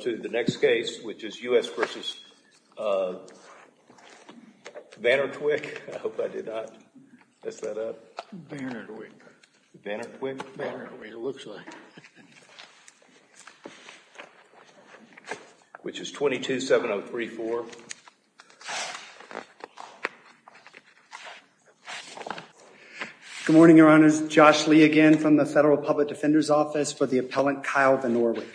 to the next case which is U.S. v. Vannortwick. I hope I did not mess that up. Vannortwick. Vannortwick. Vannortwick it looks like. Which is 227034. Good morning your honors. Josh Lee again from the Federal Public Defender's Office for the appellant Kyle Vannortwick.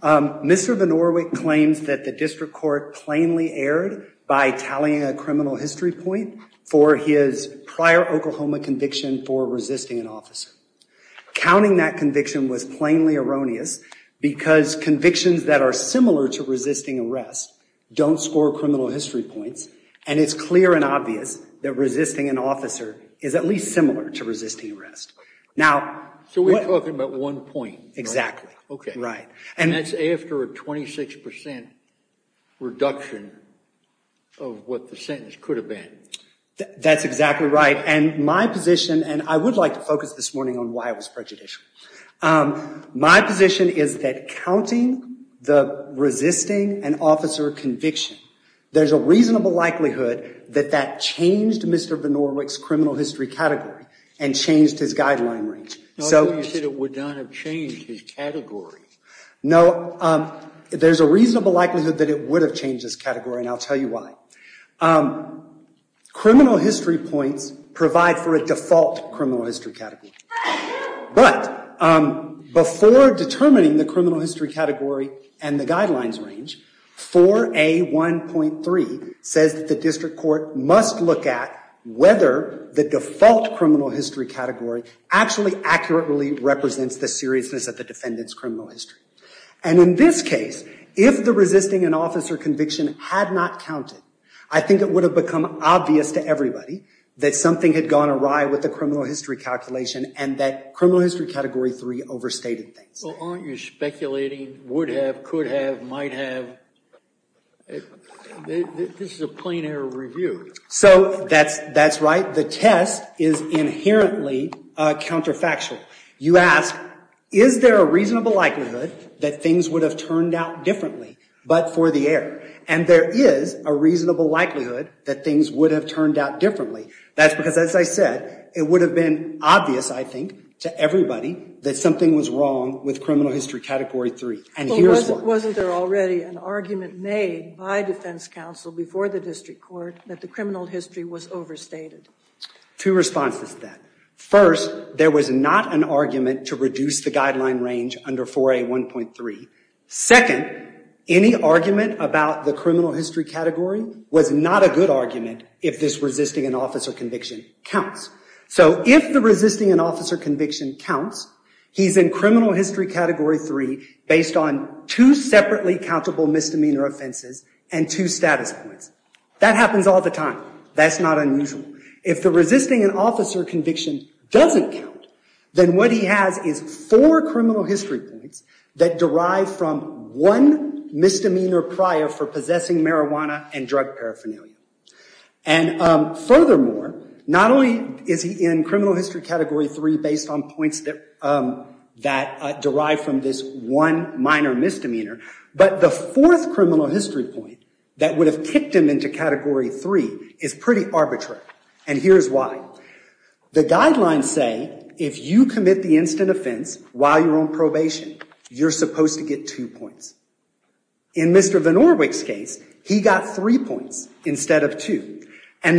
Mr. Vannortwick claims that the district court plainly erred by tallying a criminal history point for his prior Oklahoma conviction for resisting an officer. Counting that conviction was plainly erroneous because convictions that are similar to resisting arrest don't score criminal history points and it's clear and obvious that resisting an officer is at least a resisting arrest. Now. So we're talking about one point. Exactly. Okay. Right. And that's after a 26% reduction of what the sentence could have been. That's exactly right and my position and I would like to focus this morning on why it was prejudicial. My position is that counting the resisting an officer conviction there's a reasonable likelihood that that changed Mr. Vannortwick's criminal history category and changed his guideline range. So you said it would not have changed his category. No. There's a reasonable likelihood that it would have changed his category and I'll tell you why. Criminal history points provide for a default criminal history category. But before determining the criminal history category and the guidelines range, 4A1.3 says that the district court must look at whether the default criminal history category actually accurately represents the seriousness of the defendant's criminal history. And in this case, if the resisting an officer conviction had not counted, I think it would have become obvious to everybody that something had gone awry with the criminal history calculation and that criminal history category 3 overstated things. Well, aren't you speculating would have, could have, might have? This is a plain error review. So that's right. The test is inherently counterfactual. You ask, is there a reasonable likelihood that things would have turned out differently but for the error? And there is a reasonable likelihood that things would have turned out differently. That's because as I said, it would have been obvious, I think, to everybody that something was wrong with criminal history category 3. And here's why. But wasn't there already an argument made by defense counsel before the district court that the criminal history was overstated? Two responses to that. First, there was not an argument to reduce the guideline range under 4A1.3. Second, any argument about the criminal history category was not a good argument if this resisting an officer conviction counts. So if the resisting an officer conviction counts, he's in criminal history category 3 based on two separately countable misdemeanor offenses and two status points. That happens all the time. That's not unusual. If the resisting an officer conviction doesn't count, then what he has is four criminal history points that derive from one misdemeanor prior for possessing marijuana and drug paraphernalia. And furthermore, not only is he in criminal history category 3 based on points that derive from this one minor misdemeanor, but the fourth criminal history point that would have kicked him into category 3 is pretty arbitrary. And here's why. The guidelines say if you commit the instant offense while you're on probation, you're And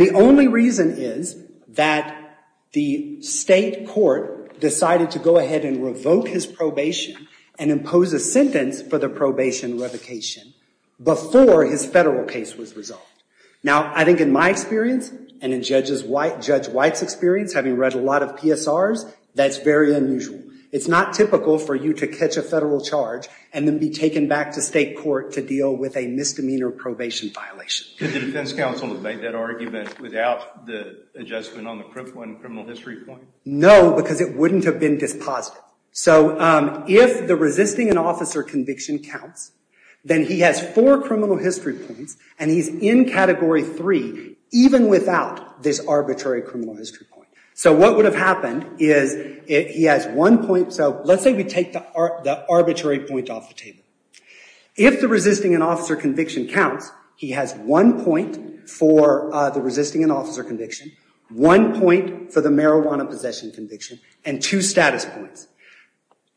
the only reason is that the state court decided to go ahead and revoke his probation and impose a sentence for the probation revocation before his federal case was resolved. Now, I think in my experience and in Judge White's experience, having read a lot of PSRs, that's very unusual. It's not typical for you to catch a federal charge and then be taken back to state court to deal with a misdemeanor probation violation. Could the defense counsel have made that argument without the adjustment on the criminal history point? No, because it wouldn't have been dispositive. So if the resisting an officer conviction counts, then he has four criminal history points, and he's in category 3 even without this arbitrary criminal history point. So what would have happened is he has one point. So let's say we take the arbitrary point off the table. If the resisting an officer conviction counts, he has one point for the resisting an officer conviction, one point for the marijuana possession conviction, and two status points.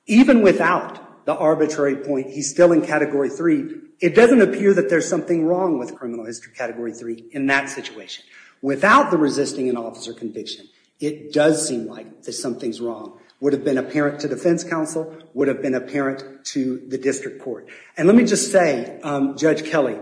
Even without the arbitrary point, he's still in category 3. It doesn't appear that there's something wrong with criminal history category 3 in that situation. Without the resisting an officer conviction, it does seem like that something's wrong. Would have been apparent to defense counsel, would have been apparent to the district court. And let me just say, Judge Kelly,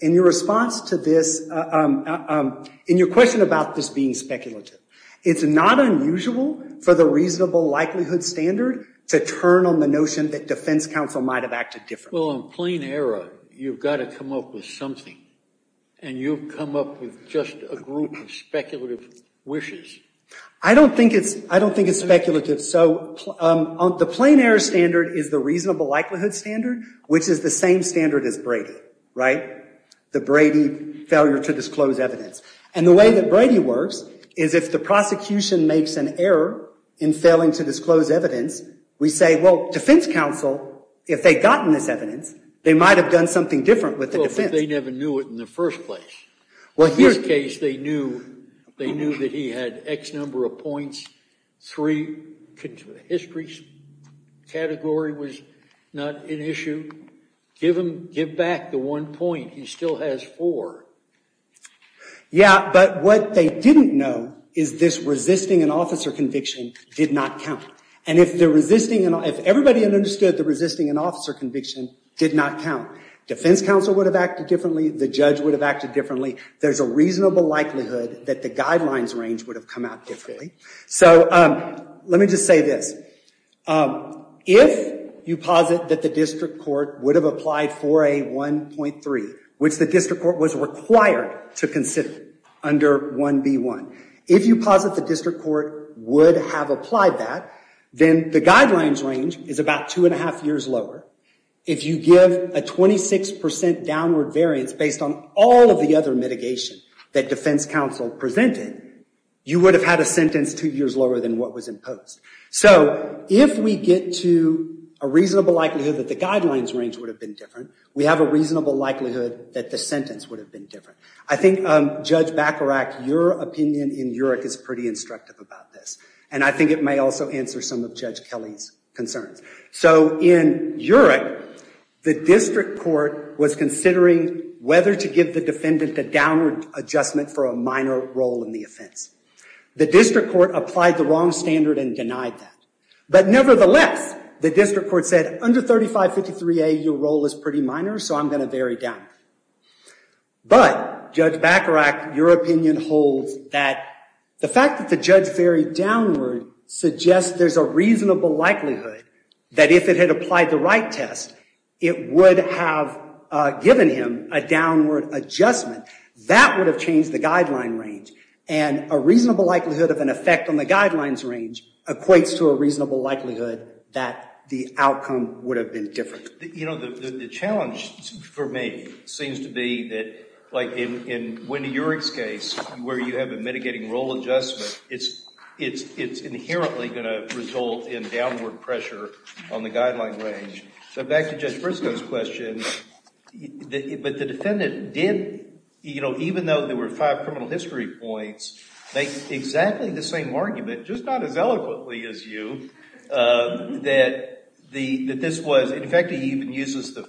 in your response to this, in your question about this being speculative, it's not unusual for the reasonable likelihood standard to turn on the notion that defense counsel might have acted differently. Well, in plain error, you've got to come up with something. And you've come up with just a group of speculative wishes. I don't think it's speculative. So the plain error standard is the reasonable likelihood standard, which is the same standard as Brady, right? The Brady failure to disclose evidence. And the way that Brady works is if the prosecution makes an error in failing to disclose evidence, we say, well, defense counsel, if they'd gotten this evidence, they might have done something different with the defense. They never knew it in the first place. Well, in this case, they knew that he had X number of points, 3 history category was not an issue. Give back the one point. He still has 4. Yeah, but what they didn't know is this resisting an officer conviction did not count. And if everybody understood the resisting an officer conviction did not count, defense counsel would have acted differently. The judge would have acted differently. There's a reasonable likelihood that the guidelines range would have come out differently. So let me just say this. If you posit that the district court would have applied 4A1.3, which the district court was required to consider under 1B1, if you posit the district court would have applied that, then the guidelines range is about 2 and 1⁄2 years lower. If you give a 26% downward variance based on all of the other mitigation that defense counsel presented, you would have had a sentence 2 years lower than what was imposed. So if we get to a reasonable likelihood that the guidelines range would have been different, we have a reasonable likelihood that the sentence would have been different. I think, Judge Bacharach, your opinion in URIC is pretty instructive about this. And I think it may also answer some of Judge Kelly's concerns. So in URIC, the district court was considering whether to give the defendant the downward adjustment for a minor role in the offense. The district court applied the wrong standard and denied that. But nevertheless, the district court said, under 3553A, your role is pretty minor, so I'm going to vary downward. But, Judge Bacharach, your opinion holds that the fact that the judge varied downward suggests there's a reasonable likelihood that if it had applied the right test, it would have given him a downward adjustment. That would have changed the guideline range. And a reasonable likelihood of an effect on the guidelines range equates to a reasonable likelihood that the outcome would have been different. The challenge for me seems to be that, like in Wendy URIC's case, where you have a mitigating role adjustment, it's inherently going to result in downward pressure on the guideline range. So back to Judge Briscoe's question, but the defendant did, even though there were five criminal history points, make exactly the same argument, just not as eloquently as you, that this was, in fact, he even uses the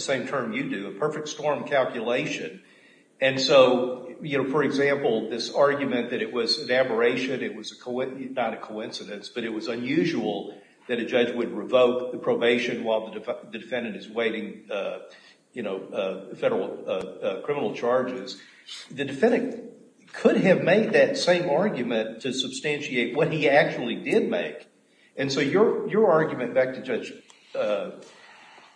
same term you do, a perfect storm calculation. And so, for example, this argument that it was an aberration, it was not a coincidence, but it was unusual that a judge would revoke the probation while the defendant is waiting federal criminal charges. The defendant could have made that same argument to substantiate what he actually did make. And so your argument, back to Judge,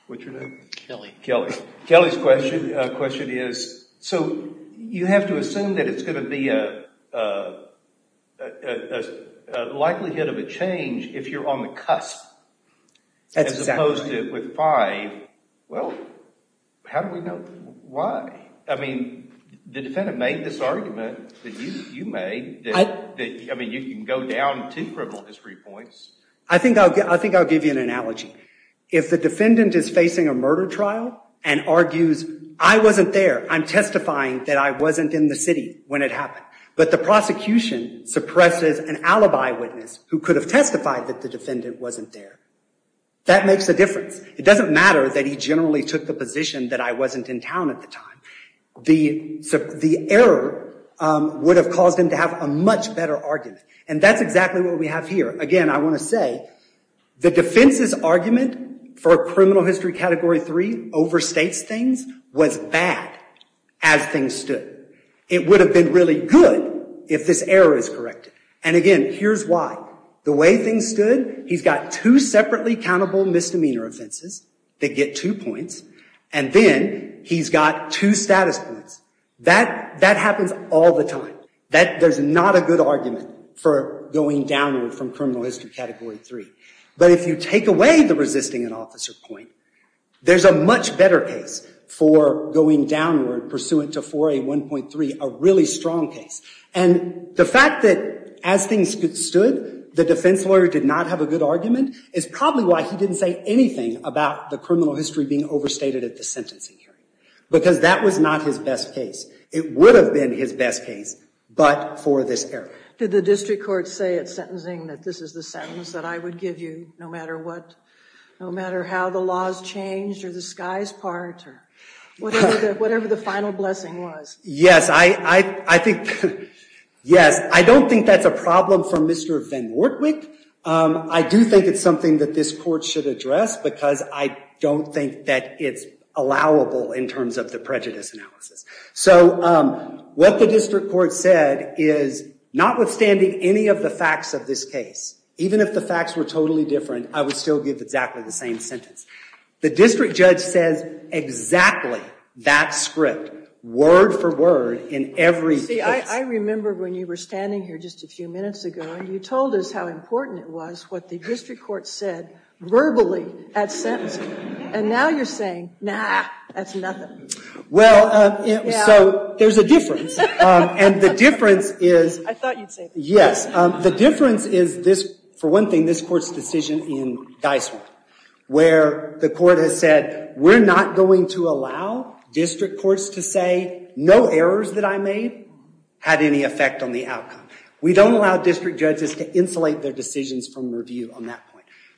what's your name? Kelly. Kelly. Kelly's question is, so you have to assume that it's going to be a likelihood of a change if you're on the cusp, as opposed to with five. Well, how do we know why? I mean, you can go down two criminal history points. I think I'll give you an analogy. If the defendant is facing a murder trial and argues, I wasn't there, I'm testifying that I wasn't in the city when it happened. But the prosecution suppresses an alibi witness who could have testified that the defendant wasn't there. That makes a difference. It doesn't matter that he generally took the position that I would have caused him to have a much better argument. And that's exactly what we have here. Again, I want to say the defense's argument for a criminal history category three overstates things was bad as things stood. It would have been really good if this error is corrected. And again, here's why. The way things stood, he's got two separately countable misdemeanor offenses that get two points. And then he's got two status points. That happens all the time. There's not a good argument for going downward from criminal history category three. But if you take away the resisting an officer point, there's a much better case for going downward pursuant to 4A1.3, a really strong case. And the fact that as things stood, the defense lawyer did not have a good argument is probably why he didn't say anything about the criminal history being overstated at the sentencing hearing. Because that was not his best case. It would have been his best case, but for this error. Did the district court say at sentencing that this is the sentence that I would give you no matter what, no matter how the laws changed or the skies part or whatever the final blessing was? Yes. I don't think that's a problem for Mr. Van Wortwyk. I do think it's something that this court should address because I don't think that it's allowable in terms of the prejudice analysis. So what the district court said is notwithstanding any of the facts of this case, even if the facts were totally different, I would still give exactly the same sentence. The district judge says exactly that script word for word in every case. You see, I remember when you were standing here just a few minutes ago and you told us how the district court said verbally at sentencing. And now you're saying, nah, that's nothing. Well, so there's a difference. And the difference is... I thought you'd say that. Yes. The difference is this, for one thing, this court's decision in Dysart, where the court has said we're not going to allow district courts to say no errors that I made had any effect on the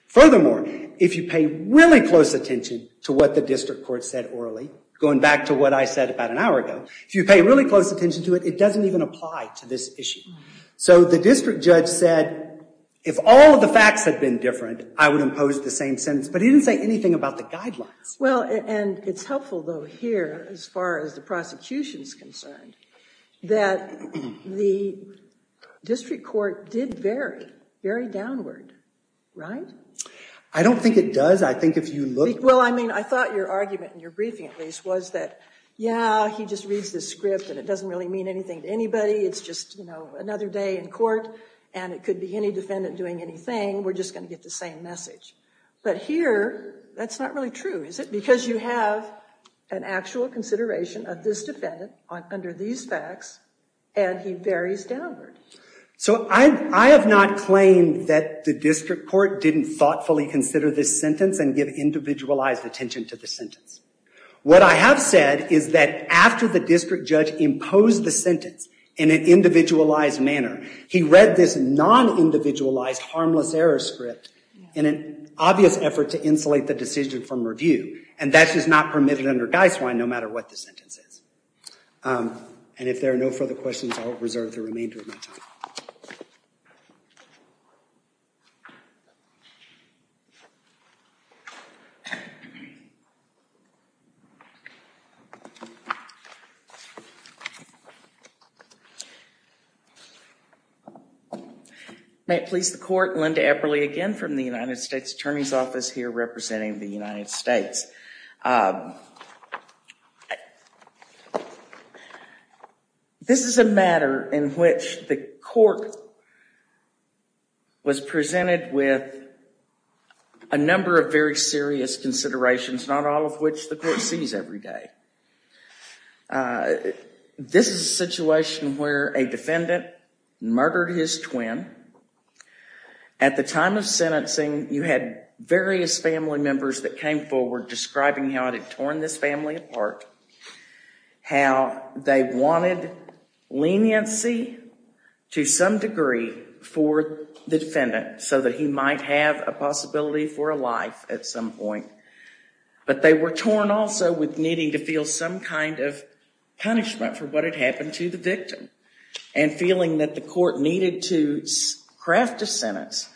Furthermore, if you pay really close attention to what the district court said orally, going back to what I said about an hour ago, if you pay really close attention to it, it doesn't even apply to this issue. So the district judge said, if all of the facts had been different, I would impose the same sentence. But he didn't say anything about the guidelines. Well, and it's helpful, though, here, as far as the prosecution's concerned, that the district court did vary, vary downward, right? I don't think it does. I think if you look... Well, I mean, I thought your argument in your briefing, at least, was that, yeah, he just reads the script and it doesn't really mean anything to anybody. It's just, you know, another day in court and it could be any defendant doing anything. We're just going to get the same message. But here, that's not really true, is it? Because you have an actual consideration of this defendant under these facts and he varies downward. So I have not claimed that the district court didn't thoughtfully consider this sentence and give individualized attention to the sentence. What I have said is that after the district judge imposed the sentence in an individualized manner, he read this non-individualized harmless error script in an obvious effort to insulate the decision from review. And that is not permitted under Guy Swine, no matter what the sentence is. And if there are no further questions, I'll reserve the remainder of my time. May it please the court, Linda Epperle again from the United States Attorney's Office here representing the United States. This is a matter in which the court was presented with a number of very serious considerations, not all of which the court sees every day. This is a situation where a defendant murdered his twin. At the time of sentencing, you had various family members that came forward describing how it had torn this family apart, how they wanted leniency to some degree for the defendant so that he might have a possibility for a life at some point. But they were torn also with needing to feel some kind of punishment for what happened to the victim, and feeling that the court needed to craft a sentence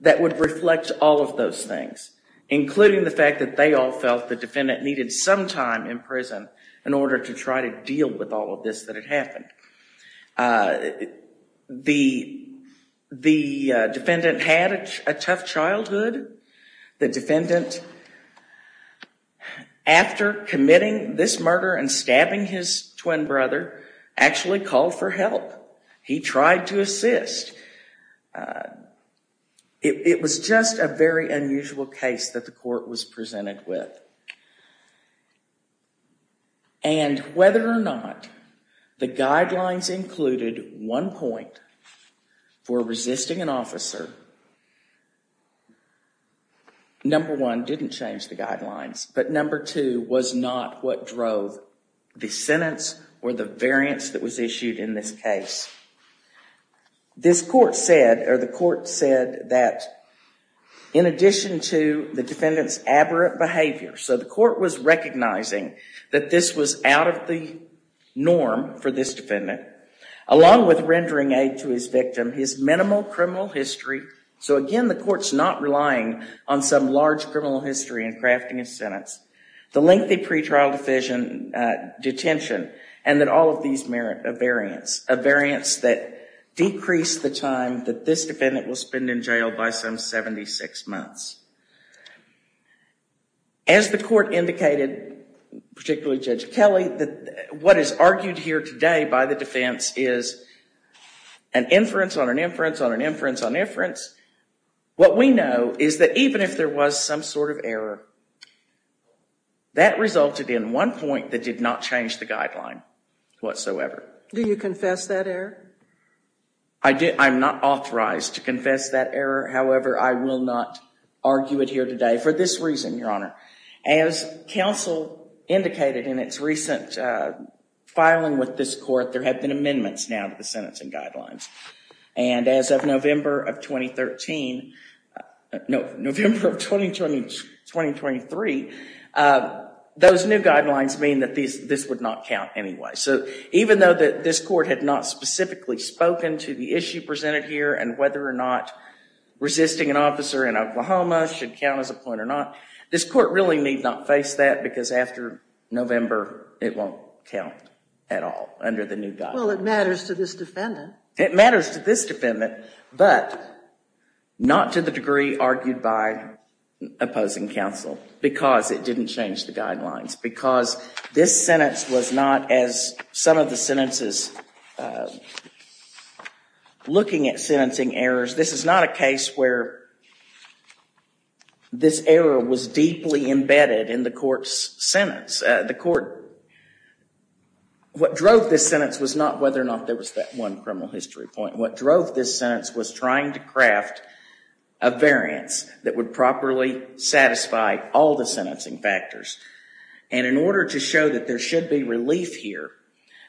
that would reflect all of those things, including the fact that they all felt the defendant needed some time in prison in order to try to deal with all of this that had happened. The defendant had a tough childhood. The defendant, after committing this murder and stabbing his twin brother, actually called for help. He tried to assist. It was just a very unusual case that the court was presented with. And whether or not the guidelines included one point for resisting an officer, number one, didn't change the guidelines. But number two was not what drove the sentence or the variance that was issued in this case. This court said, or the court said that in addition to the defendant's aberrant behavior, so the court was recognizing that this was out of the norm for this defendant, along with rendering aid to his victim, his minimal criminal history. So again, the court's not relying on some large criminal history in crafting a sentence. The lengthy pretrial detention, and then all of these variants, a variance that decreased the time that this defendant will spend in jail by some 76 months. As the court indicated, particularly Judge Kelly, that what is argued here today by the defense is an inference on an inference on an inference on inference. What we know is that even if there was some sort of error, that resulted in one point that did not change the guideline whatsoever. Do you confess that error? I'm not authorized to confess that error. However, I will not argue it here today for this reason, Your Honor. As counsel indicated in its recent filing with this court, there have been amendments now to the sentencing guidelines. And as of November of 2013, no, November of 2023, those new guidelines mean that this would not count anyway. So even though this court had not specifically spoken to the issue presented here and whether or not resisting an officer in Oklahoma should count as a point or not, this court really need not face that because after November, it won't count at all under the new guidelines. Well, it matters to this defendant. It matters to this defendant, but not to the degree argued by opposing counsel, because it didn't change the guidelines, because this sentence was not as some of the sentences looking at sentencing errors. This is not a case where this error was deeply embedded in the court's sentence. The court, what drove this sentence was not whether or not there was that one criminal history point. What drove this sentence was trying to craft a variance that would properly satisfy all the sentencing factors. And in order to show that there should be relief here,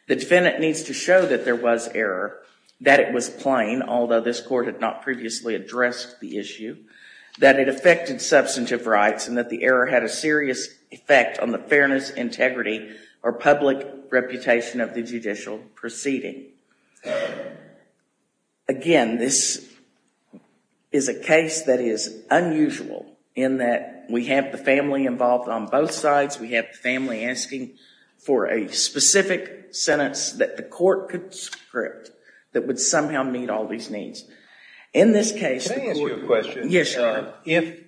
the defendant needs to show that there was error, that it was plain, although this court had not previously addressed the issue, that it affected substantive rights, and that the error had a serious effect on the integrity or public reputation of the judicial proceeding. Again, this is a case that is unusual in that we have the family involved on both sides. We have the family asking for a specific sentence that the court could script that would somehow meet all these needs. In this case- Can I ask you a question? Yes, Your Honor. If,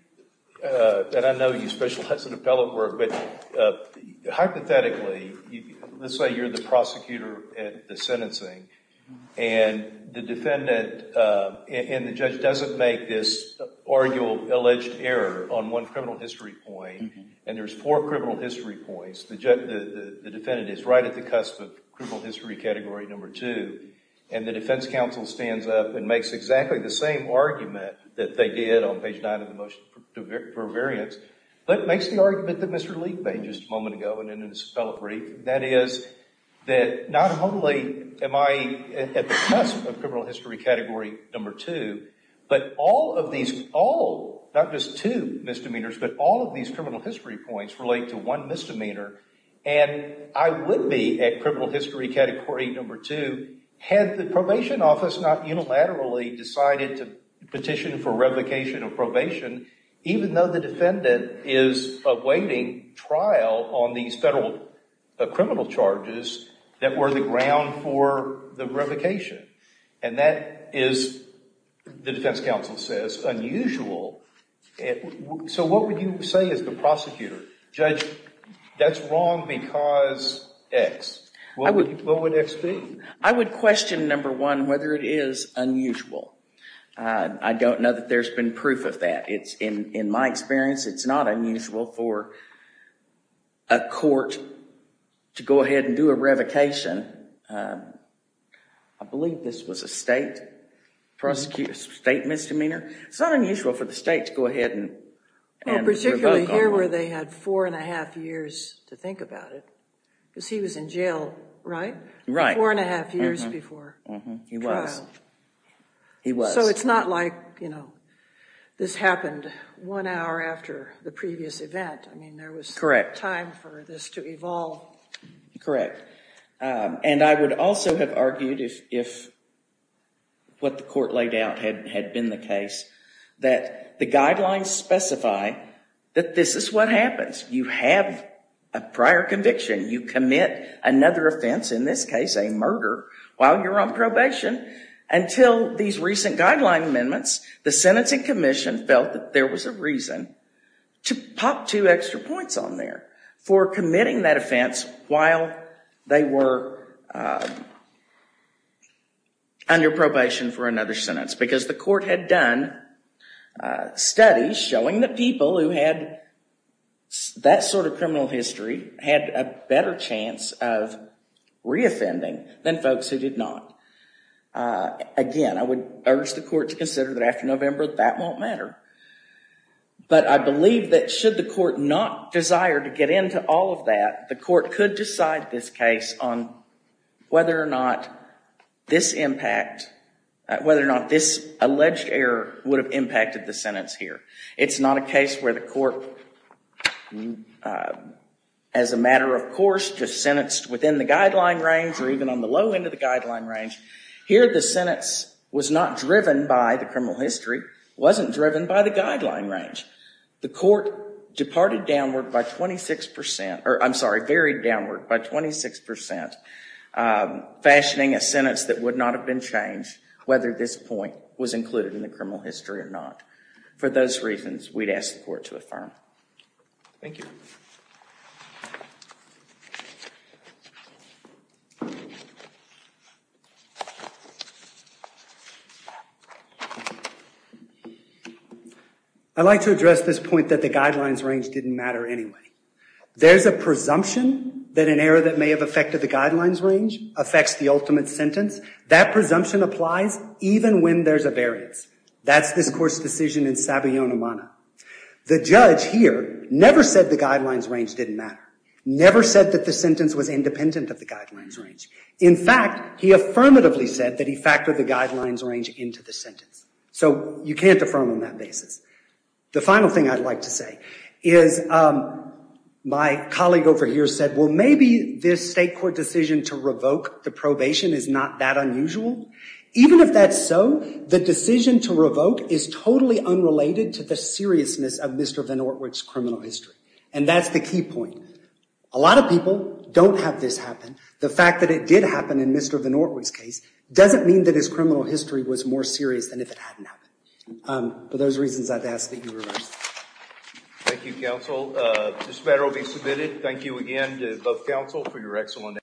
and I know you specialize in appellate work, but hypothetically, let's say you're the prosecutor at the sentencing, and the defendant and the judge doesn't make this argued alleged error on one criminal history point, and there's four criminal history points, the defendant is right at the cusp of criminal history category number two, and the defense counsel stands up and makes exactly the same argument that they did on page nine of the motion for variance, but makes the argument that Mr. Leek made just a moment ago, and in his appellate brief, that is, that not only am I at the cusp of criminal history category number two, but all of these, all, not just two misdemeanors, but all of these criminal history points relate to one misdemeanor, and I would be at criminal history category number two had the probation office not unilaterally decided to petition for revocation of probation, even though the defendant is awaiting trial on these federal criminal charges that were the ground for the revocation, and that is, the defense counsel says, unusual. So what would you say as the prosecutor? Judge, that's wrong because X. What would X be? I would question, number one, whether it is unusual. I don't know that there's been proof of that. It's, in my experience, it's not unusual for a court to go ahead and do a revocation. I believe this was a state prosecutor, state misdemeanor. It's not unusual for the state to go ahead and revoke. Particularly here where they had four and a half years to think about it, because he was in jail, right? Right. Four and a half years before. He was. He was. So it's not like, you know, this happened one hour after the previous event. I mean, there was correct time for this to evolve. Correct, and I would also have argued if what the court laid out had been the case, that the guidelines specify that this is what happens. You have a prior conviction. You commit another offense, in this case a murder, while you're on probation until these recent guideline amendments. The sentencing commission felt that there was a reason to pop two extra points on there for committing that offense while they were under probation for another sentence. Because the court had done studies showing that people who had that sort of criminal history had a better chance of re-offending than folks who did not. Again, I would urge the court to consider that after November that won't matter. But I believe that should the court not desire to get into all of that, the court could decide this case on whether or not this impact, whether or not this alleged error would have impacted the sentence here. It's not a case where the court, as a matter of course, just sentenced within the guideline range or even on the low end of the guideline range. Here the sentence was not driven by the criminal history, wasn't driven by the guideline range. The court departed downward by 26 percent, or I'm sorry, varied downward by 26 percent, fashioning a sentence that would not have been changed whether this point was included in the criminal history or not. For those reasons, we'd ask the court to affirm. Thank you. I'd like to address this point that the guidelines range didn't matter anyway. There's a presumption that an error that may have affected the guidelines range affects the ultimate sentence. That presumption applies even when there's a variance. That's this court's decision in Sabayonimana. The judge here never said the guidelines range didn't matter, never said that the sentence was independent of the guidelines range. In fact, he affirmatively said that he factored the guidelines range into the sentence. So you can't affirm on that basis. The final thing I'd like to say is my colleague over here said, well, maybe this state court to revoke the probation is not that unusual. Even if that's so, the decision to revoke is totally unrelated to the seriousness of Mr. Van Ortwig's criminal history. And that's the key point. A lot of people don't have this happen. The fact that it did happen in Mr. Van Ortwig's case doesn't mean that his criminal history was more serious than if it hadn't happened. For those reasons, I'd ask that you reverse. Thank you, counsel. This matter will be submitted. Thank you again to both counsel for your excellent.